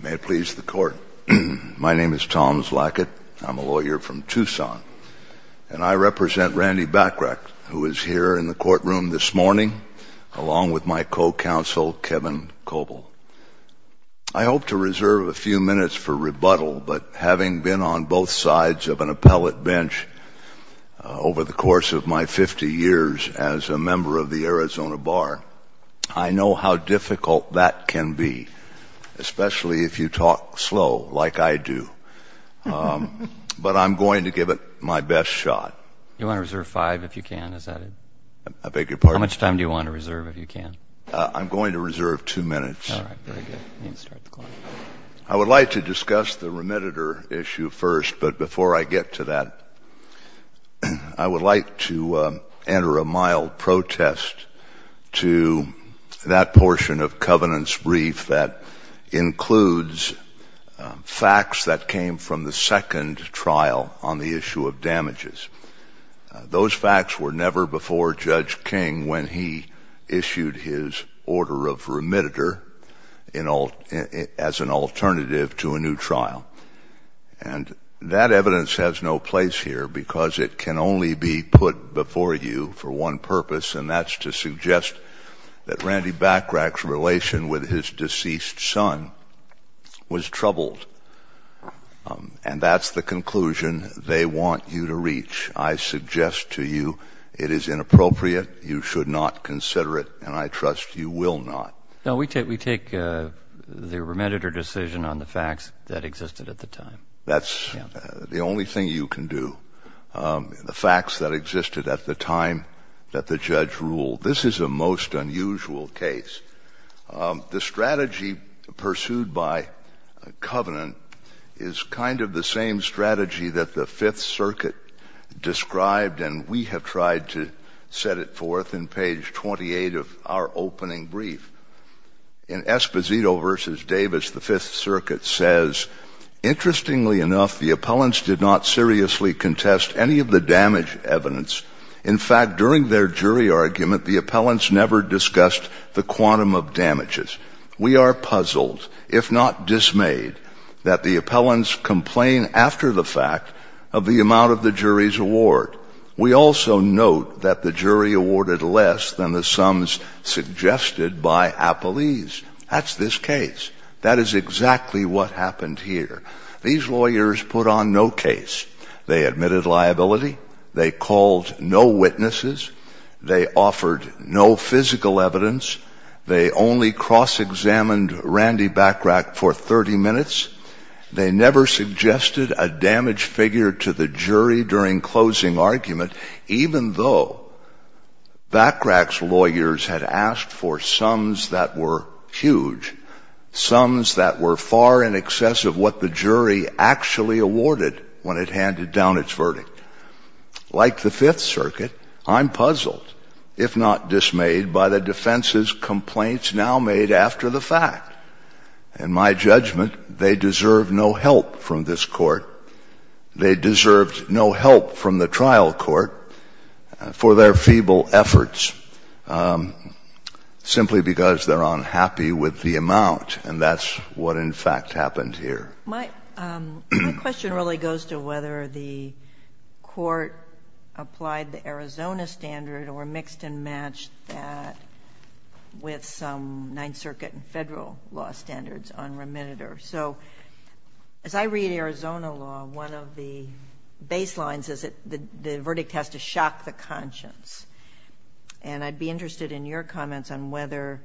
May it please the Court. My name is Tom Zlacket. I'm a lawyer from Tucson, and I represent Randy Bachrach, who is here in the courtroom this morning, along with my co-counsel, Kevin Coble. I hope to reserve a few minutes for rebuttal, but having been on both sides of an appellate bench over the course of my 50 years as a lawyer, I know how difficult that can be, especially if you talk slow, like I do. But I'm going to give it my best shot. I would like to discuss the remediator issue first, but before I get to that, I would like to enter a mild protest to that portion of Covenant's brief that includes facts that came from the second trial on the issue of damages. Those facts were never before Judge King when he issued his order of remediator as an alternative to a new trial. And that evidence has no place here because it can only be put before you for one purpose, and that's to suggest that Randy Bachrach's relation with his deceased son was troubled. And that's the conclusion they want you to reach. I suggest to you it is inappropriate, you should not consider it, and I trust you will not. No, we take the remediator decision on the facts that existed at the time. That's the only thing you can do, the facts that existed at the time that the judge ruled. This is a most unusual case. The strategy pursued by Covenant is kind of the same strategy that the Fifth Circuit described, and we have tried to set it forth in page 28 of our opening brief. In Esposito v. Davis, the Fifth Circuit says, Interestingly enough, the appellants did not seriously contest any of the damage evidence. In fact, during their jury argument, the appellants never discussed the quantum of damages. We are puzzled, if not dismayed, that the appellants complain after the fact of the amount of the That's this case. That is exactly what happened here. These lawyers put on no case. They admitted liability. They called no witnesses. They offered no physical evidence. They only cross-examined Randy Bachrach for 30 minutes. They never suggested a damaged figure to the jury during closing argument, even though Bachrach's lawyers had asked for sums that were huge, sums that were far in excess of what the jury actually awarded when it handed down its verdict. Like the Fifth Circuit, I'm puzzled, if not dismayed, by the defense's complaints now made after the fact. In my judgment, they deserved no help from this Court. They deserved no help from the trial court for their feeble efforts, simply because they're unhappy with the amount. And that's what, in fact, happened here. My question really goes to whether the Court applied the Arizona standard or mixed and matched that with some Ninth Circuit and Federal law standards on remitted or so. As I read the Arizona law, one of the baselines is that the verdict has to shock the conscience. And I'd be interested in your comments on whether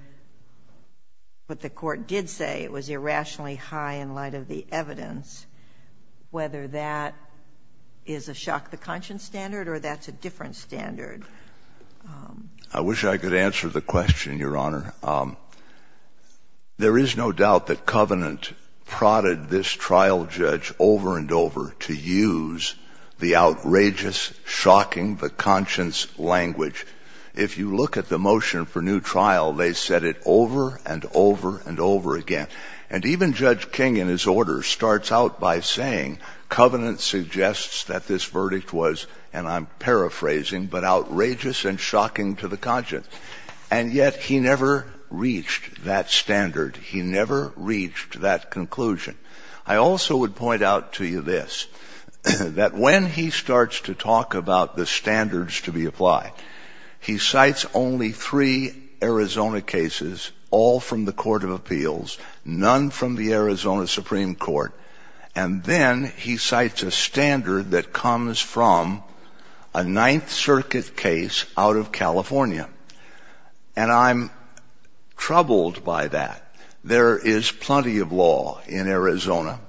what the Court did say was irrationally high in light of the evidence, whether that is a shock the conscience standard or that's a different standard. I wish I could answer the question, Your Honor. There is no doubt that Covenant prodded this trial judge over and over to use the outrageous, shocking, the conscience language. If you look at the motion for new trial, they said it over and over and over again. And even Judge King, in his order, starts out by saying Covenant suggests that this verdict was, and I'm paraphrasing, but outrageous and shocking to the conscience. And yet he never reached that standard. He never reached that conclusion. I also would point out to you this, that when he starts to talk about the standards to be applied, he cites only three Arizona cases, all from the Court of Appeals, none from the Arizona Supreme Court. And then he cites a standard that comes from a Ninth Circuit case out of California. And I'm troubled by that. There is plenty of law in Arizona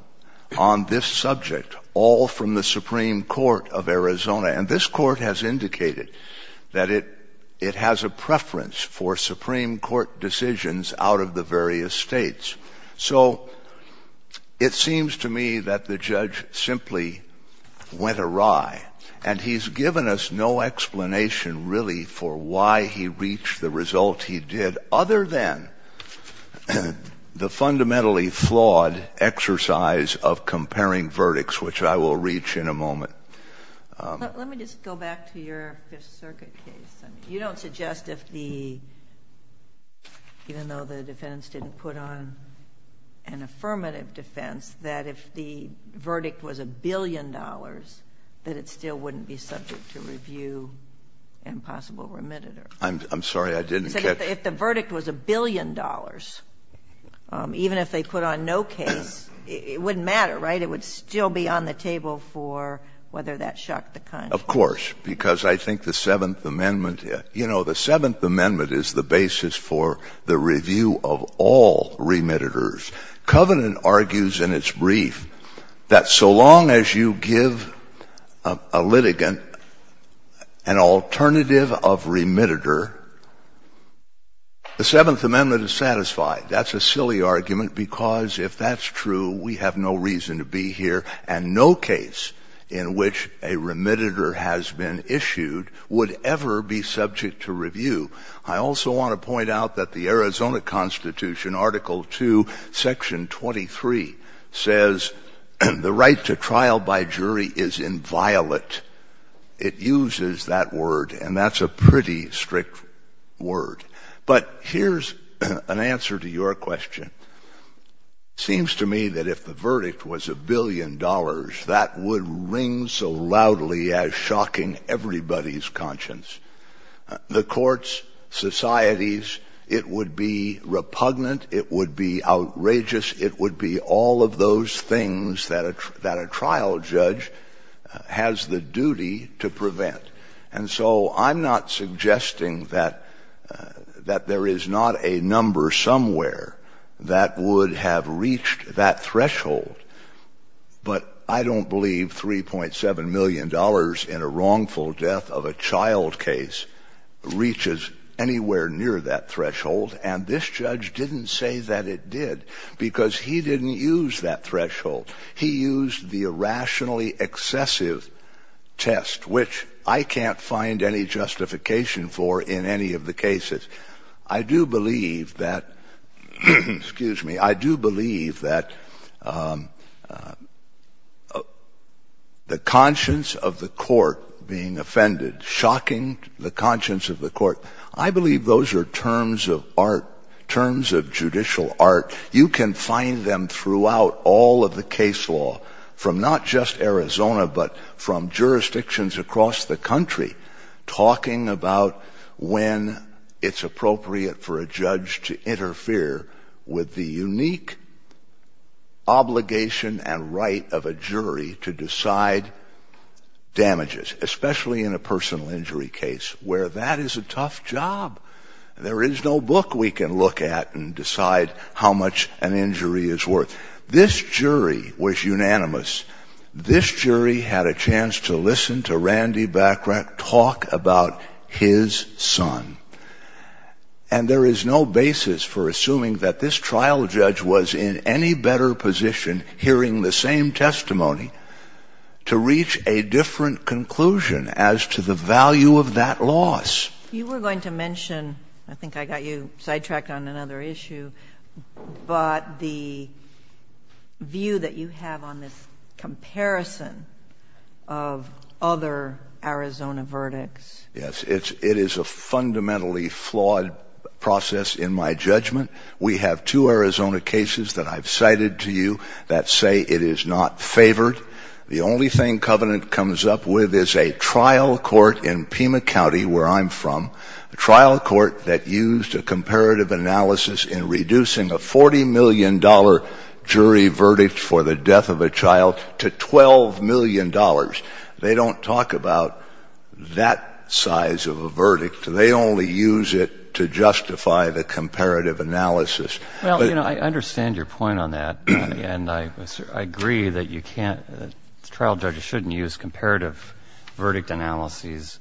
on this subject, all from the Supreme Court of Arizona. And this Court has indicated that it has a preference for Supreme Court decisions out of the various states. So it seems to me that the judge simply went awry. And he's given us no explanation, really, for why he reached the result he did, other than the fundamentally flawed exercise of comparing verdicts, which I will reach in a moment. JUSTICE GINSBURG Let me just go back to your Fifth Circuit case. You don't suggest if the, even though the defense didn't put on an affirmative defense, that if the verdict was a billion dollars, that it still wouldn't be subject to review and possible remitted. JUSTICE BREYER I'm sorry, I didn't catch that. JUSTICE GINSBURG If the verdict was a billion dollars, even if they put on no case, it wouldn't matter, right? It would still be on the table for whether that shocked the Congress. JUSTICE BREYER Of course. Because I think the Seventh Amendment — you know, the Seventh Amendment is the basis for the review of all remitteders. Covenant argues in its brief that so long as you give a litigant an alternative of remitter, the Seventh Amendment is satisfied. That's a silly argument, because if that's true, we have no reason to be here, and no case in which a remitter has been issued would ever be subject to review. I also want to point out that the Arizona Constitution, Article 2, Section 23, says the right to trial by jury is inviolate. It uses that word, and that's a pretty strict word. But here's an answer to your question. It seems to me that if the verdict was a billion dollars, that would ring so loudly as shocking everybody's conscience. The courts, the societies, it would be repugnant, it would be outrageous, it would be all of those things that a trial judge has the duty to prevent. And so I'm not suggesting that there is not a number somewhere that would have reached that threshold. But I don't believe $3.7 million in a wrongful death of a child case reaches anywhere near that threshold. And this judge didn't say that it did, because he didn't use that threshold. He used the irrationally excessive test, which I can't find any justification for in any of the cases. I do believe that the conscience of the court being offended, shocking the conscience of the court, I believe those are terms of art, terms of judicial art. You can find them throughout all of the case law, from not just Arizona, but from jurisdictions across the country, talking about when it's appropriate for a judge to interfere with the unique obligation and right of a jury to decide damages, especially in a personal injury case, where that is a tough job. There is no book we can look at and decide how much an injury is worth. This jury was unanimous. This jury had a chance to listen to Randy Bachrach talk about his son. And there is no basis for assuming that this trial judge was in any better position hearing the same testimony to reach a different conclusion as to the value of that loss. You were going to mention, I think I got you sidetracked on another issue, but the view that you have on this comparison of other Arizona verdicts. Yes, it is a fundamentally flawed process in my judgment. We have two Arizona cases that I've cited to you that say it is not favored. The only thing Covenant comes up with is a trial court in Pima County, where I'm from, a trial court that used a comparative analysis in reducing a $40 million jury verdict for the death of a child to $12 million. They don't talk about that size of a verdict. They only use it to justify the comparative analysis. Well, you know, I understand your point on that. And I agree that you can't, trial judges shouldn't use comparative verdict analyses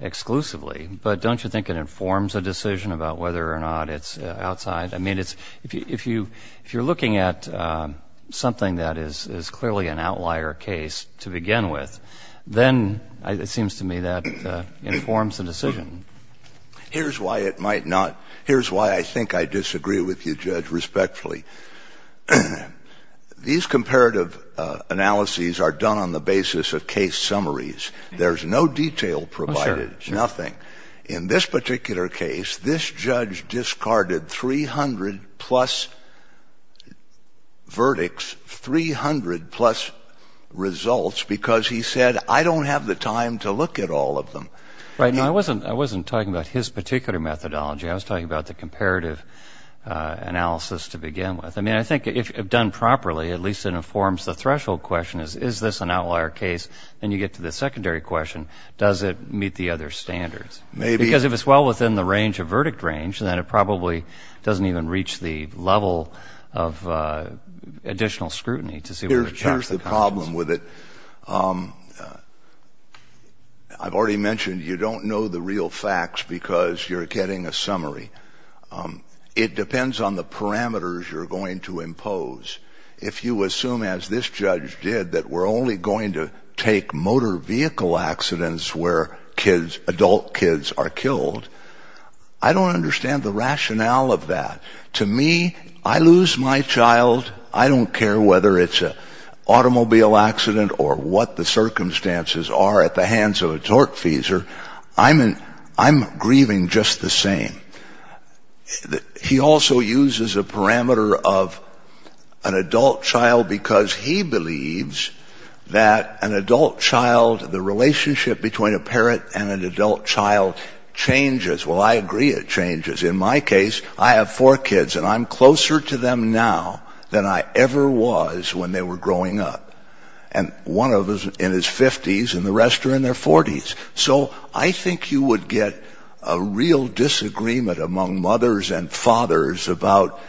exclusively. But don't you think it informs a decision about whether or not it's outside? I mean, if you're looking at something that is clearly an outlier case to begin with, then it seems to me that informs the decision. Here's why it might not. Here's why I think I disagree with you, Judge, respectfully. These comparative analyses are done on the basis of case summaries. There's no detail provided, nothing. In this particular case, this judge discarded 300-plus verdicts, 300-plus results because he said, I don't have the time to look at all of them. Right. Now, I wasn't talking about his particular methodology. I was talking about the comparative analysis to begin with. I mean, I think if done properly, at least it informs the threshold question, is this an outlier case? Then you get to the secondary question, does it meet the other standards? Because if it's well within the range of verdict range, then it probably doesn't even reach the level of additional scrutiny to see whether it checks the confidence. I think there's a problem with it. I've already mentioned you don't know the real facts because you're getting a summary. It depends on the parameters you're going to impose. If you assume, as this judge did, that we're only going to take motor vehicle accidents where kids, adult kids, are killed, I don't understand the rationale of that. To me, I lose my child, I don't care whether it's an automobile accident or what the circumstances are at the hands of a tortfeasor. I'm grieving just the same. He also uses a parameter of an adult child because he believes that an adult child, the relationship between a parent and an adult child changes. Well, I agree it changes. In my case, I have four kids and I'm closer to them now than I ever was when they were growing up. And one of them is in his 50s and the rest are in their 40s. So I think you would get a real disagreement among mothers and fathers about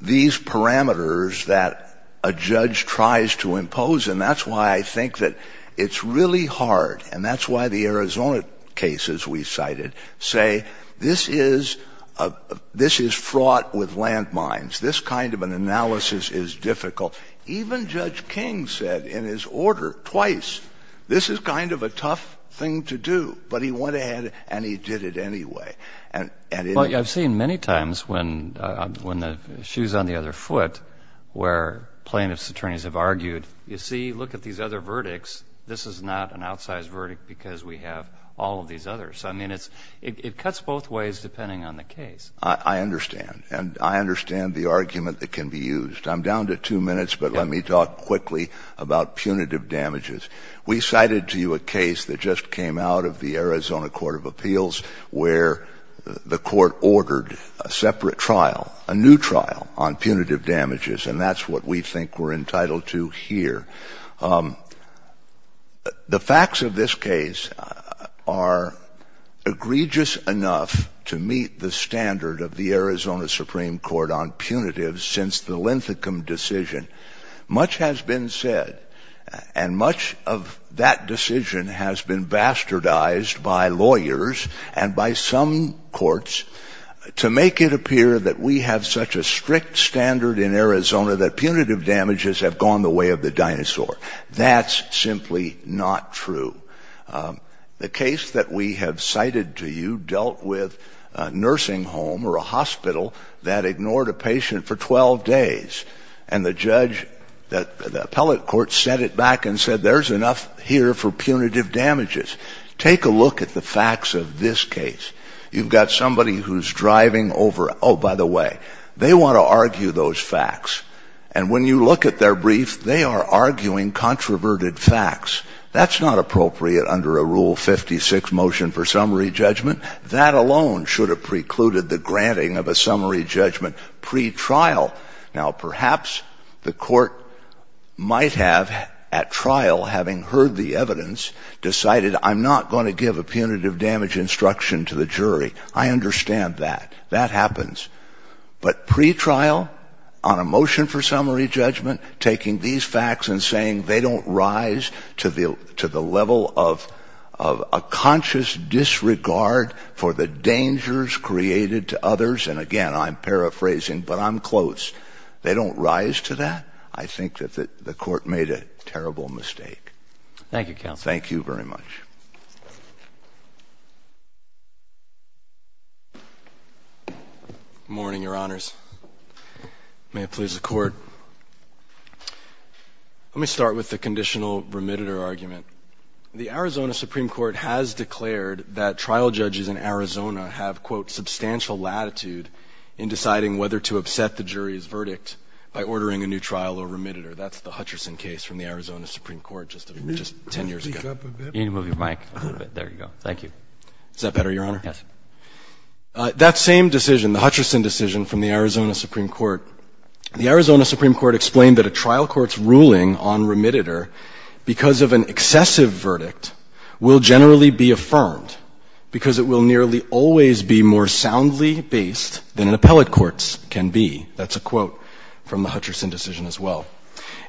these parameters that a judge tries to impose and that's why I think that it's really hard and that's why the Arizona cases we cited say this is fraught with land mines, this kind of an analysis is difficult. Even Judge King said in his order twice, this is kind of a tough thing to do. But he went ahead and he did it anyway. Well, I've seen many times when the shoe's on the other foot where plaintiff's attorneys have argued, you see, look at these other verdicts, this is not an outsized verdict because we have all of these others. I mean, it cuts both ways depending on the case. I understand and I understand the argument that can be used. I'm down to two minutes but let me talk quickly about punitive damages. We cited to you a case that just came out of the Arizona Court of Appeals where the court ordered a separate trial, a new trial on punitive damages and that's what we think we're entitled to here. The facts of this case are egregious enough to meet the standard of the Arizona Supreme Court on punitives since the Linthicum decision. Much has been said and much of that decision has been bastardized by lawyers and by some courts to make it appear that we have such a strict standard in Arizona that punitive damages have gone the way of the dinosaur. That's simply not true. The case that we have cited to you dealt with a nursing home or a hospital that ignored a patient for 12 days and the judge, the appellate court set it back and said there's enough here for punitive damages. Take a look at the facts of this case. You've got somebody who's driving over, oh by the way, they want to argue those facts and when you look at their brief they are arguing controverted facts. That's not appropriate under a Rule 56 motion for summary judgment. That alone should have precluded the granting of a summary judgment pre-trial. Now perhaps the court might have at trial having heard the evidence decided I'm not going to give a punitive damage instruction to the jury. I understand that. That happens. But pre-trial on a motion for summary judgment taking these facts and saying they don't rise to the level of a conscious disregard for the dangers created to others and again I'm paraphrasing but I'm close. They don't rise to that? I think that the court might have heard that. Thank you very much. Good morning, your honors. May it please the court. Let me start with the conditional remitter argument. The Arizona Supreme Court has declared that trial judges in Arizona have quote substantial latitude in deciding whether to upset the jury's verdict by ordering a new trial or remitter. That's the Hutcherson case from the Arizona Supreme Court just 10 years ago. Can you move your mic a little bit? There you go. Thank you. Is that better, your honor? Yes. That same decision, the Hutcherson decision from the Arizona Supreme Court, the Arizona Supreme Court explained that a trial court's ruling on remitter because of an excessive verdict will generally be affirmed because it will nearly always be more soundly based than an appellate court's can be. That's a quote from the Hutcherson decision as well.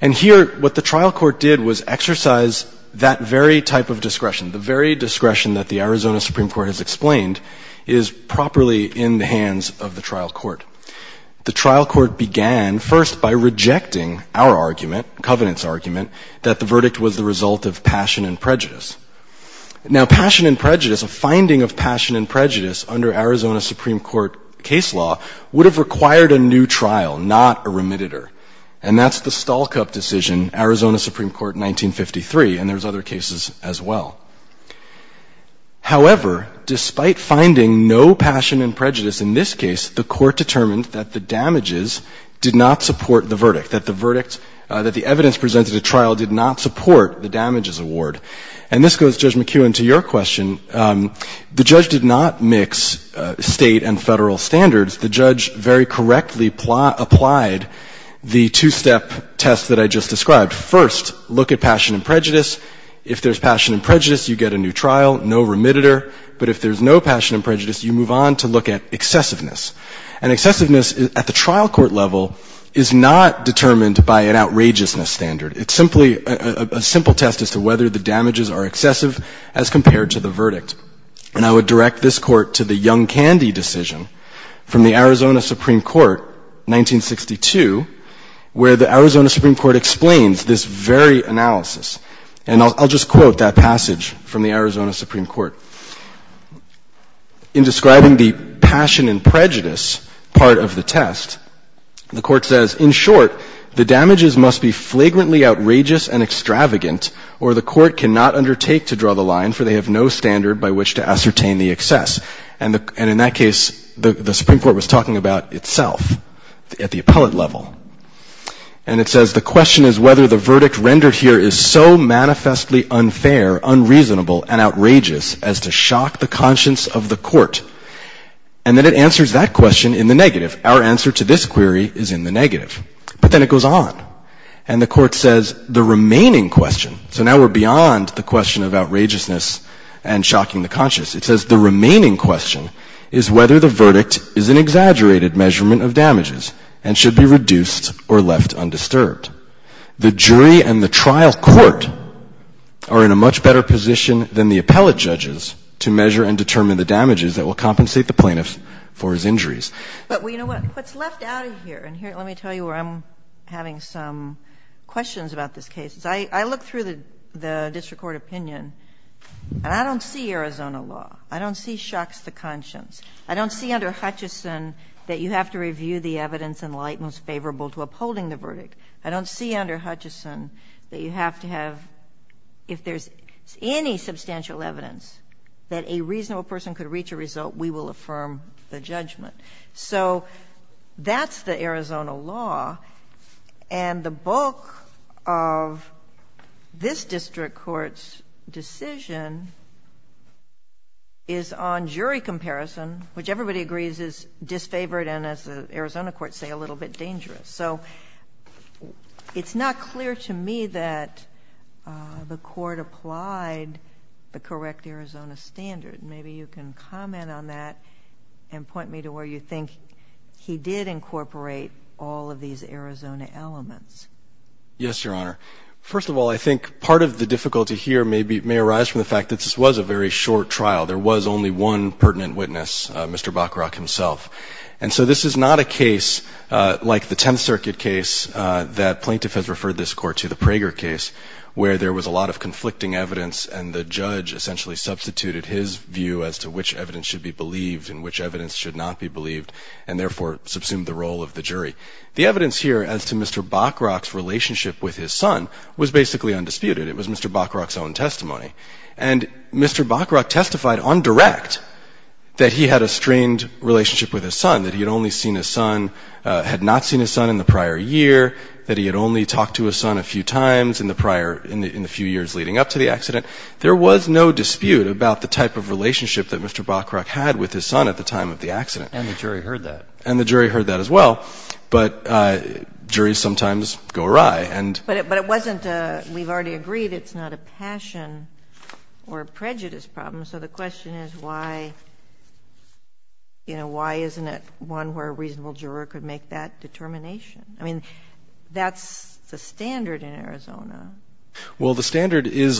And here what the trial court did was exercise that very type of discretion, the very discretion that the Arizona Supreme Court has explained is properly in the hands of the trial court. The trial court began first by rejecting our argument, Covenant's argument, that the verdict was the result of passion and prejudice. Now passion and prejudice, a finding of passion and prejudice under Arizona Supreme Court case law would have required a new trial, not a remitter. And that's the Stolkup decision, Arizona Supreme Court 1953. And there's other cases as well. However, despite finding no passion and prejudice in this case, the court determined that the damages did not support the verdict, that the verdict, that the evidence presented at trial did not support the damages award. And this goes, Judge McKeown, to your question. The judge did not mix state and federal standards. The judge very correctly applied the two-step test that I just described. First, look at passion and prejudice. If there's passion and prejudice, you get a new trial, no remitter. But if there's no passion and prejudice, you move on to look at excessiveness. And excessiveness at the trial court level is not determined by an outrageousness standard. It's simply a simple test as to whether the damages are excessive as compared to the verdict. And I would direct this Court to the Young Candy decision from the Arizona Supreme Court, 1962, where the Arizona Supreme Court explains this very analysis. And I'll just quote that passage from the Arizona Supreme Court. In describing the passion and prejudice part of the test, the Court says, in short, the damages must be flagrantly outrageous and extravagant, or the Court cannot undertake to draw the line, for they have no standard by which to ascertain the excess. And in that case, the Supreme Court was talking about itself at the appellate level. And it says, the question is whether the verdict rendered here is so manifestly unfair, unreasonable, and outrageous as to shock the conscience of the Court. And then it answers that question in the negative. Our answer to this query is in the negative. But then it goes on. And the Court says the remaining question, so now we're beyond the question of outrageousness and shocking the conscience. It says the remaining question is whether the verdict is an exaggerated measurement of damages and should be reduced or left undisturbed. The jury and the trial court are in a much better position than the appellate judges to measure and determine the damages that will compensate the plaintiffs for his injuries. But you know what? What's left out of here, and let me tell you where I'm having some questions about this case, is I look through the district court opinion, and I don't see Arizona law. I don't see shocks the conscience. I don't see under Hutchison that you have to review the evidence in light most favorable to upholding the verdict. I don't see under Hutchison that you have to have, if there's any substantial evidence that a reasonable person could reach a result, we will affirm the judgment. So that's the Arizona law, and the bulk of this district court's decision is on jury comparison, which everybody agrees is disfavored and, as the Arizona courts say, a little bit dangerous. So it's not clear to me that the court applied the correct Arizona standard, and maybe you can comment on that and point me to where you think he did incorporate all of these Arizona elements. Yes, Your Honor. First of all, I think part of the difficulty here may arise from the fact that this was a very short trial. There was only one pertinent witness, Mr. Bacharach himself. And so this is not a case like the Tenth Circuit case that plaintiff has referred this Court to, the Prager case, where there was a lot of conflicting evidence, and the judge essentially substituted his view as to which evidence should be believed and which evidence should not be believed, and therefore subsumed the role of the jury. The evidence here as to Mr. Bacharach's relationship with his son was basically undisputed. It was Mr. Bacharach's own testimony. And Mr. Bacharach testified on direct that he had a strained relationship with his son, that he had only seen his son, had not seen his son in the prior year, that he had only talked to his son a few times in the prior, in the few years leading up to the accident. There was no dispute about the type of relationship that Mr. Bacharach had with his son at the time of the accident. And the jury heard that. And the jury heard that as well. But juries sometimes go awry. But it wasn't a, we've already agreed it's not a passion or prejudice problem, so the question is why, you know, why isn't it one where a reasonable juror could make that determination? I mean, that's the standard in Arizona. Well, the standard is,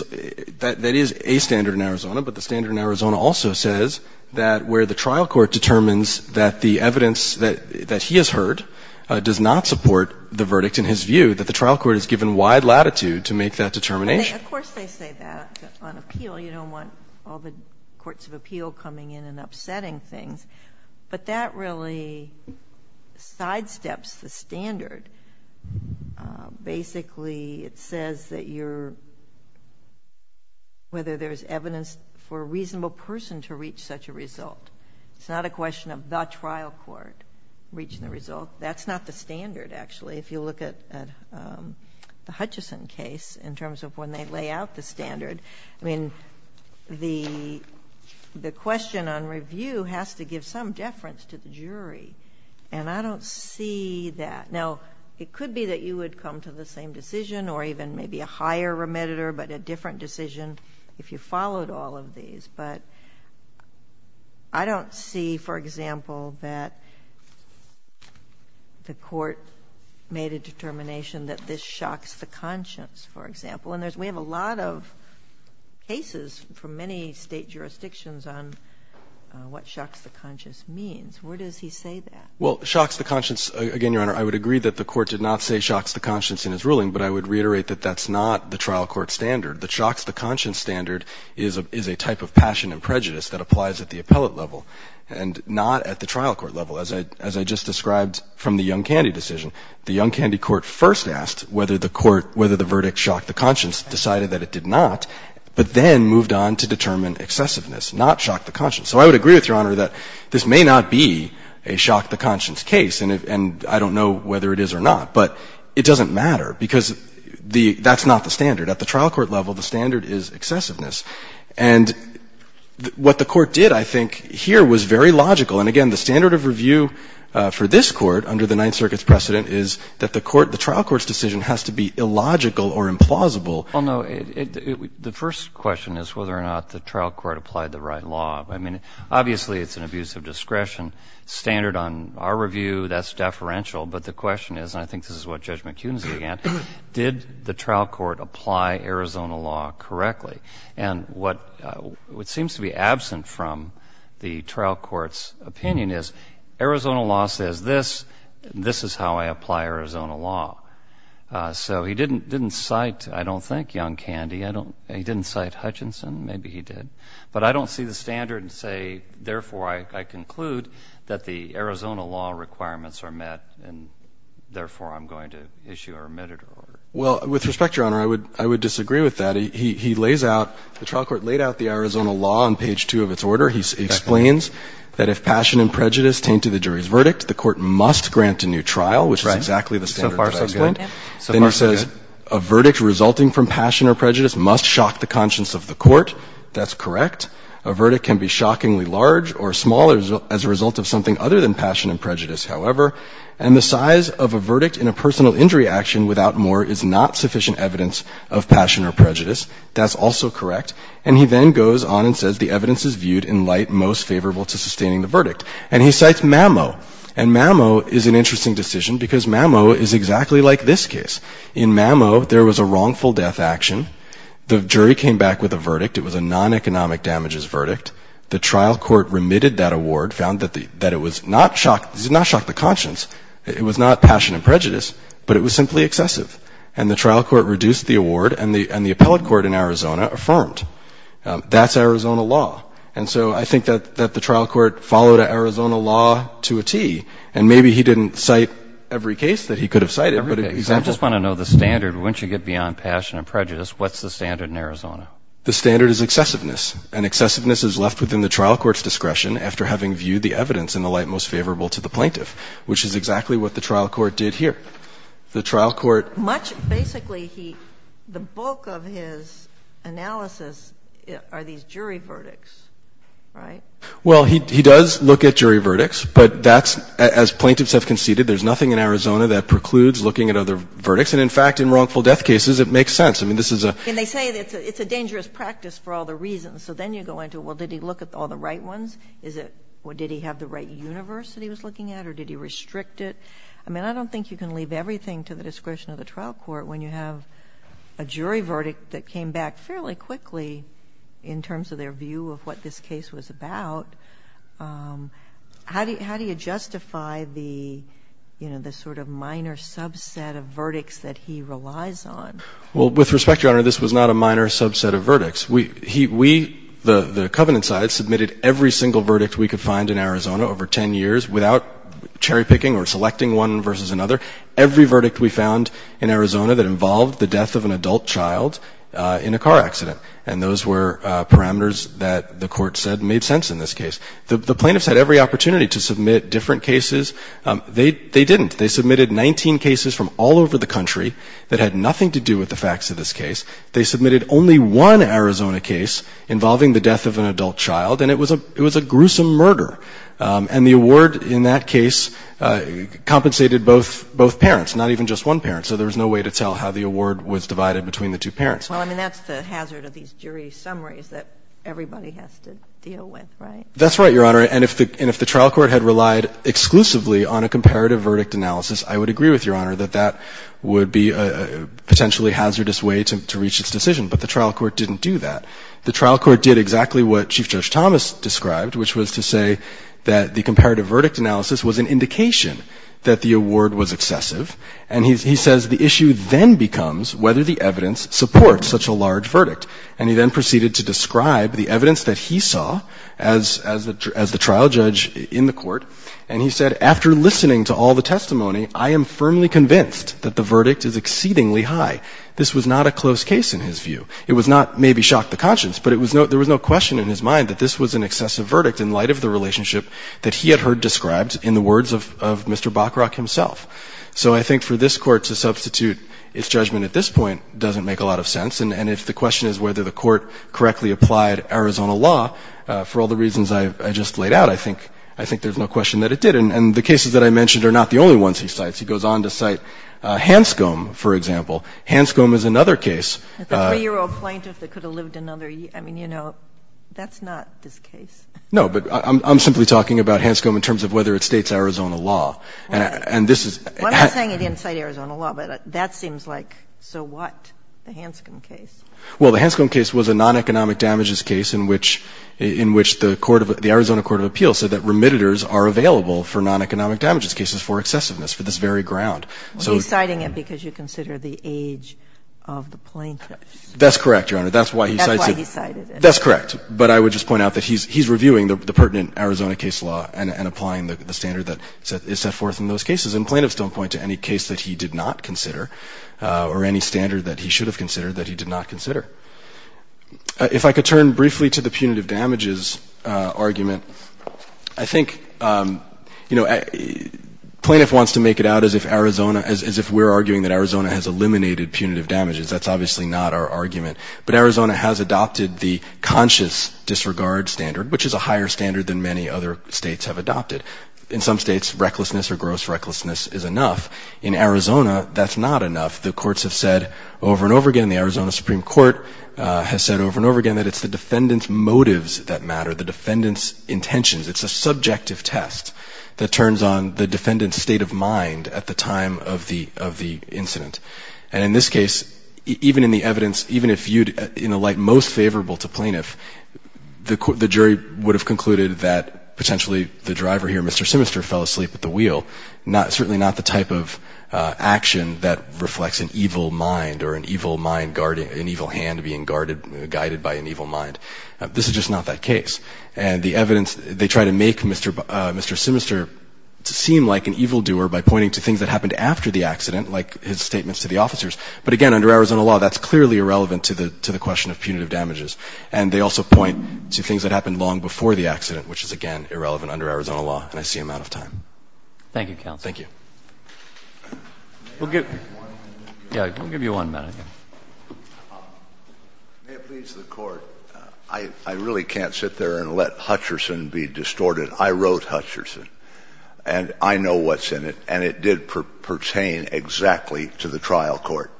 that is a standard in Arizona, but the standard in Arizona also says that where the trial court determines that the evidence that he has heard does not support the verdict in his view, that the trial court has given wide latitude to make that determination. Of course they say that on appeal. You don't want all the courts of appeal coming in and upsetting things. But that really sidesteps the standard. Basically, it says that you're, whether there's evidence for a reasonable person to reach such a result. It's not a question of the trial court reaching the result. That's not the standard, actually. If you look at the Hutchison case, in terms of when they lay out the standard, I mean, the question on review has to give some deference to the jury. And I don't see that. Now, it could be that you would come to the same decision, or even maybe a higher remediator, but a different decision if you followed all of these. But I don't see, for example, that the court made a determination that this shocks the conscience, for example. And we have a lot of cases from many state jurisdictions on what shocks the conscience means. Where does he say that? Well, shocks the conscience, again, Your Honor, I would agree that the court did not say shocks the conscience in his ruling, but I would reiterate that that's not the trial court standard. The shocks the conscience standard is a type of passion and prejudice that applies at the appellate level and not at the trial court level. As I just described from the Young Candy decision, the Young Candy court first asked whether the verdict shocked the conscience, decided that it did not, but then moved on to determine excessiveness, not shock the conscience. So I would agree with Your Honor that this may not be a shock the conscience case, and I don't know whether it is or not, but it doesn't matter because that's not the standard. At the trial court level, the standard is excessiveness. And what the court did, I think, here was very logical. And again, the standard of review for this court under the Ninth Circuit's precedent is that the trial court's decision has to be illogical or implausible. Well, no, the first question is whether or not the trial court applied the right law. I mean, obviously it's an abuse of discretion standard on our review. That's deferential. But the question is, and I think this is what Judge McHughn's began, did the trial court apply Arizona law correctly? And what seems to be absent from the trial court's opinion is Arizona law says this, and this is how I apply Arizona law. So he didn't cite, I don't think, Young Candy. He didn't cite Hutchinson. Maybe he did. But I don't see the standard and say therefore I conclude that the Arizona law requirements are met and therefore I'm going to issue a remitted order. Well, with respect, Your Honor, I would disagree with that. He lays out, the trial court laid out the Arizona law on page 2 of its order. He explains that if passion and prejudice taint to the jury's verdict, the court must grant a new trial, which is exactly the standard. So far, so good. Then he says a verdict resulting from passion or prejudice must shock the conscience of the court. That's correct. A verdict can be shockingly large or small as a result of something other than passion and prejudice, however, and the size of a verdict in a personal injury action without more is not sufficient evidence of passion or prejudice. That's also correct. And he then goes on and says the evidence is viewed in light most favorable to sustaining the verdict. And he cites Mamo. And Mamo is an interesting decision because Mamo is exactly like this case. In Mamo, there was a wrongful death action. The jury came back with a verdict. It was a non-economic damages verdict. The trial court remitted that award, found that it was not shock the conscience, it was not passion and prejudice, but it was simply excessive. And the trial court reduced the award, and the appellate court in Arizona affirmed. That's Arizona law. And so I think that the trial court followed an Arizona law to a tee. And maybe he didn't cite every case that he could have cited. I just want to know the standard. Once you get beyond passion and prejudice, what's the standard in Arizona? The standard is excessiveness. And excessiveness is left within the trial court's discretion after having viewed the evidence in the light most favorable to the plaintiff, which is exactly what the trial court did here. The trial court... Basically, the bulk of his analysis are these jury verdicts, right? Well, he does look at jury verdicts, but that's, as plaintiffs have conceded, there's nothing in Arizona that precludes looking at other verdicts. And in fact, in wrongful death cases, it makes sense. And they say it's a dangerous practice for all the reasons. So then you go into, well, did he look at all the right ones? Did he have the right universe that he was looking at, or did he restrict it? I mean, I don't think you can leave everything to the discretion of the trial court when you have a jury verdict that came back fairly quickly in terms of their view of what this case was about. How do you justify the sort of minor subset of verdicts that he relies on? Well, with respect, Your Honor, this was not a minor subset of verdicts. We, the Covenant side, submitted every single verdict we could find in Arizona over 10 years without cherry-picking or selecting one versus another. Every verdict we found in Arizona that involved the death of an adult child in a car accident. And those were parameters that the Court said made sense in this case. The plaintiffs had every opportunity to submit different cases. They didn't. They submitted 19 cases from all over the country that had nothing to do with the facts of this case. They submitted only one Arizona case involving the death of an adult child, and it was a gruesome murder. And the award in that case compensated both parents, not even just one parent. So there was no way to tell how the award was divided between the two parents. Well, I mean, that's the hazard of these jury summaries that everybody has to deal with, right? That's right, Your Honor. And if the trial court had relied exclusively on a comparative verdict analysis, I would agree with Your Honor that that would be a potentially hazardous way to reach its decision. But the trial court didn't do that. The trial court did exactly what Chief Judge Thomas described, which was to say that the comparative verdict analysis was an indication that the award was excessive. And he says the issue then becomes whether the evidence supports such a large verdict. And he then proceeded to describe the evidence that he saw as the trial judge in the court, and he said, after listening to all the testimony, I am firmly convinced that the verdict is exceedingly high. This was not a close case in his view. It was not maybe shock to conscience, but there was no question in his mind that this was an excessive verdict in light of the relationship that he had heard described in the words of Mr. Bockrock himself. So I think for this court to substitute its judgment at this point doesn't make a lot of sense. And if the question is whether the court correctly applied Arizona law, for all the I think there's no question that it did. And the cases that I mentioned are not the only ones he cites. He goes on to cite Hanscom, for example. Hanscom is another case. A three-year-old plaintiff that could have lived another year. I mean, you know, that's not this case. No, but I'm simply talking about Hanscom in terms of whether it states Arizona law. And this is... Well, I'm not saying it didn't state Arizona law, but that seems like so what, the Hanscom case? Well, the Hanscom case was a non-economic damages case in which the Arizona Court of Appeals said that remitteders are available for non-economic damages cases for excessiveness, for this very ground. Well, he's citing it because you consider the age of the plaintiff. That's correct, Your Honor. That's why he cites it. That's why he cited it. That's correct. But I would just point out that he's reviewing the pertinent Arizona case law and applying the standard that is set forth in those cases. And plaintiffs don't point to any case that he did not consider or any standard that he should have considered that he did not consider. If I could turn briefly to the punitive damages argument, I think plaintiff wants to make it out as if Arizona as if we're arguing that Arizona has eliminated punitive damages. That's obviously not our argument. But Arizona has adopted the conscious disregard standard, which is a higher standard than many other states have adopted. In some states, recklessness or gross recklessness is enough. In Arizona, that's not enough. The courts have said over and over again, the Arizona Supreme Court has said over and over again that it's the defendant's motives that matter, the defendant's intentions. It's a subjective test that turns on the defendant's state of mind at the time of the incident. And in this case, even in the evidence, even if viewed in a light most favorable to plaintiff, the jury would have concluded that potentially the driver here, Mr. Simister, fell asleep at the wheel. Certainly not the type of action that reflects an evil mind or an evil hand being guided by an evil mind. This is just not that case. And the evidence, they try to make Mr. Simister seem like an evildoer by pointing to things that happened after the accident, like his statements to the officers. But again, under Arizona law, that's clearly irrelevant to the question of punitive damages. And they also point to things that happened long before the accident, which is, again, irrelevant under Arizona law. And I see I'm out of time. Thank you, Counsel. Thank you. Yeah, we'll give you one minute. May it please the Court, I really can't sit there and let Hutcherson be distorted. I wrote Hutcherson, and I know what's in it, and it did pertain exactly to the trial court.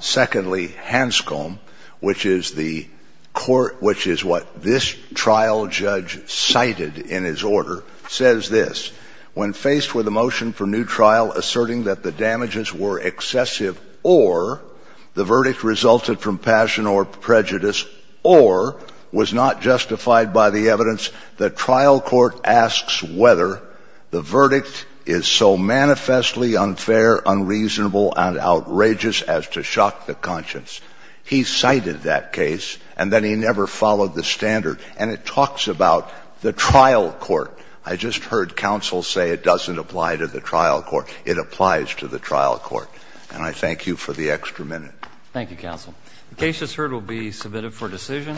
Secondly, Hanscom, which is the court, which is what this trial judge cited in his order, says this. When faced with a motion for new trial asserting that the damages were excessive or the verdict resulted from passion or prejudice or was not justified by the evidence, the trial court asks whether the verdict is so manifestly unfair, unreasonable, and outrageous as to shock the conscience. He cited that case, and then he never followed the standard. And it talks about the trial court. I just heard Counsel say it doesn't apply to the trial court. It applies to the trial court. And I thank you for the extra minute. Thank you, Counsel. The case, as heard, will be submitted for decision.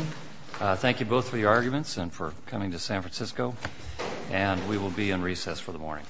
Thank you both for your arguments and for coming to San Francisco. And we will be in recess for the morning.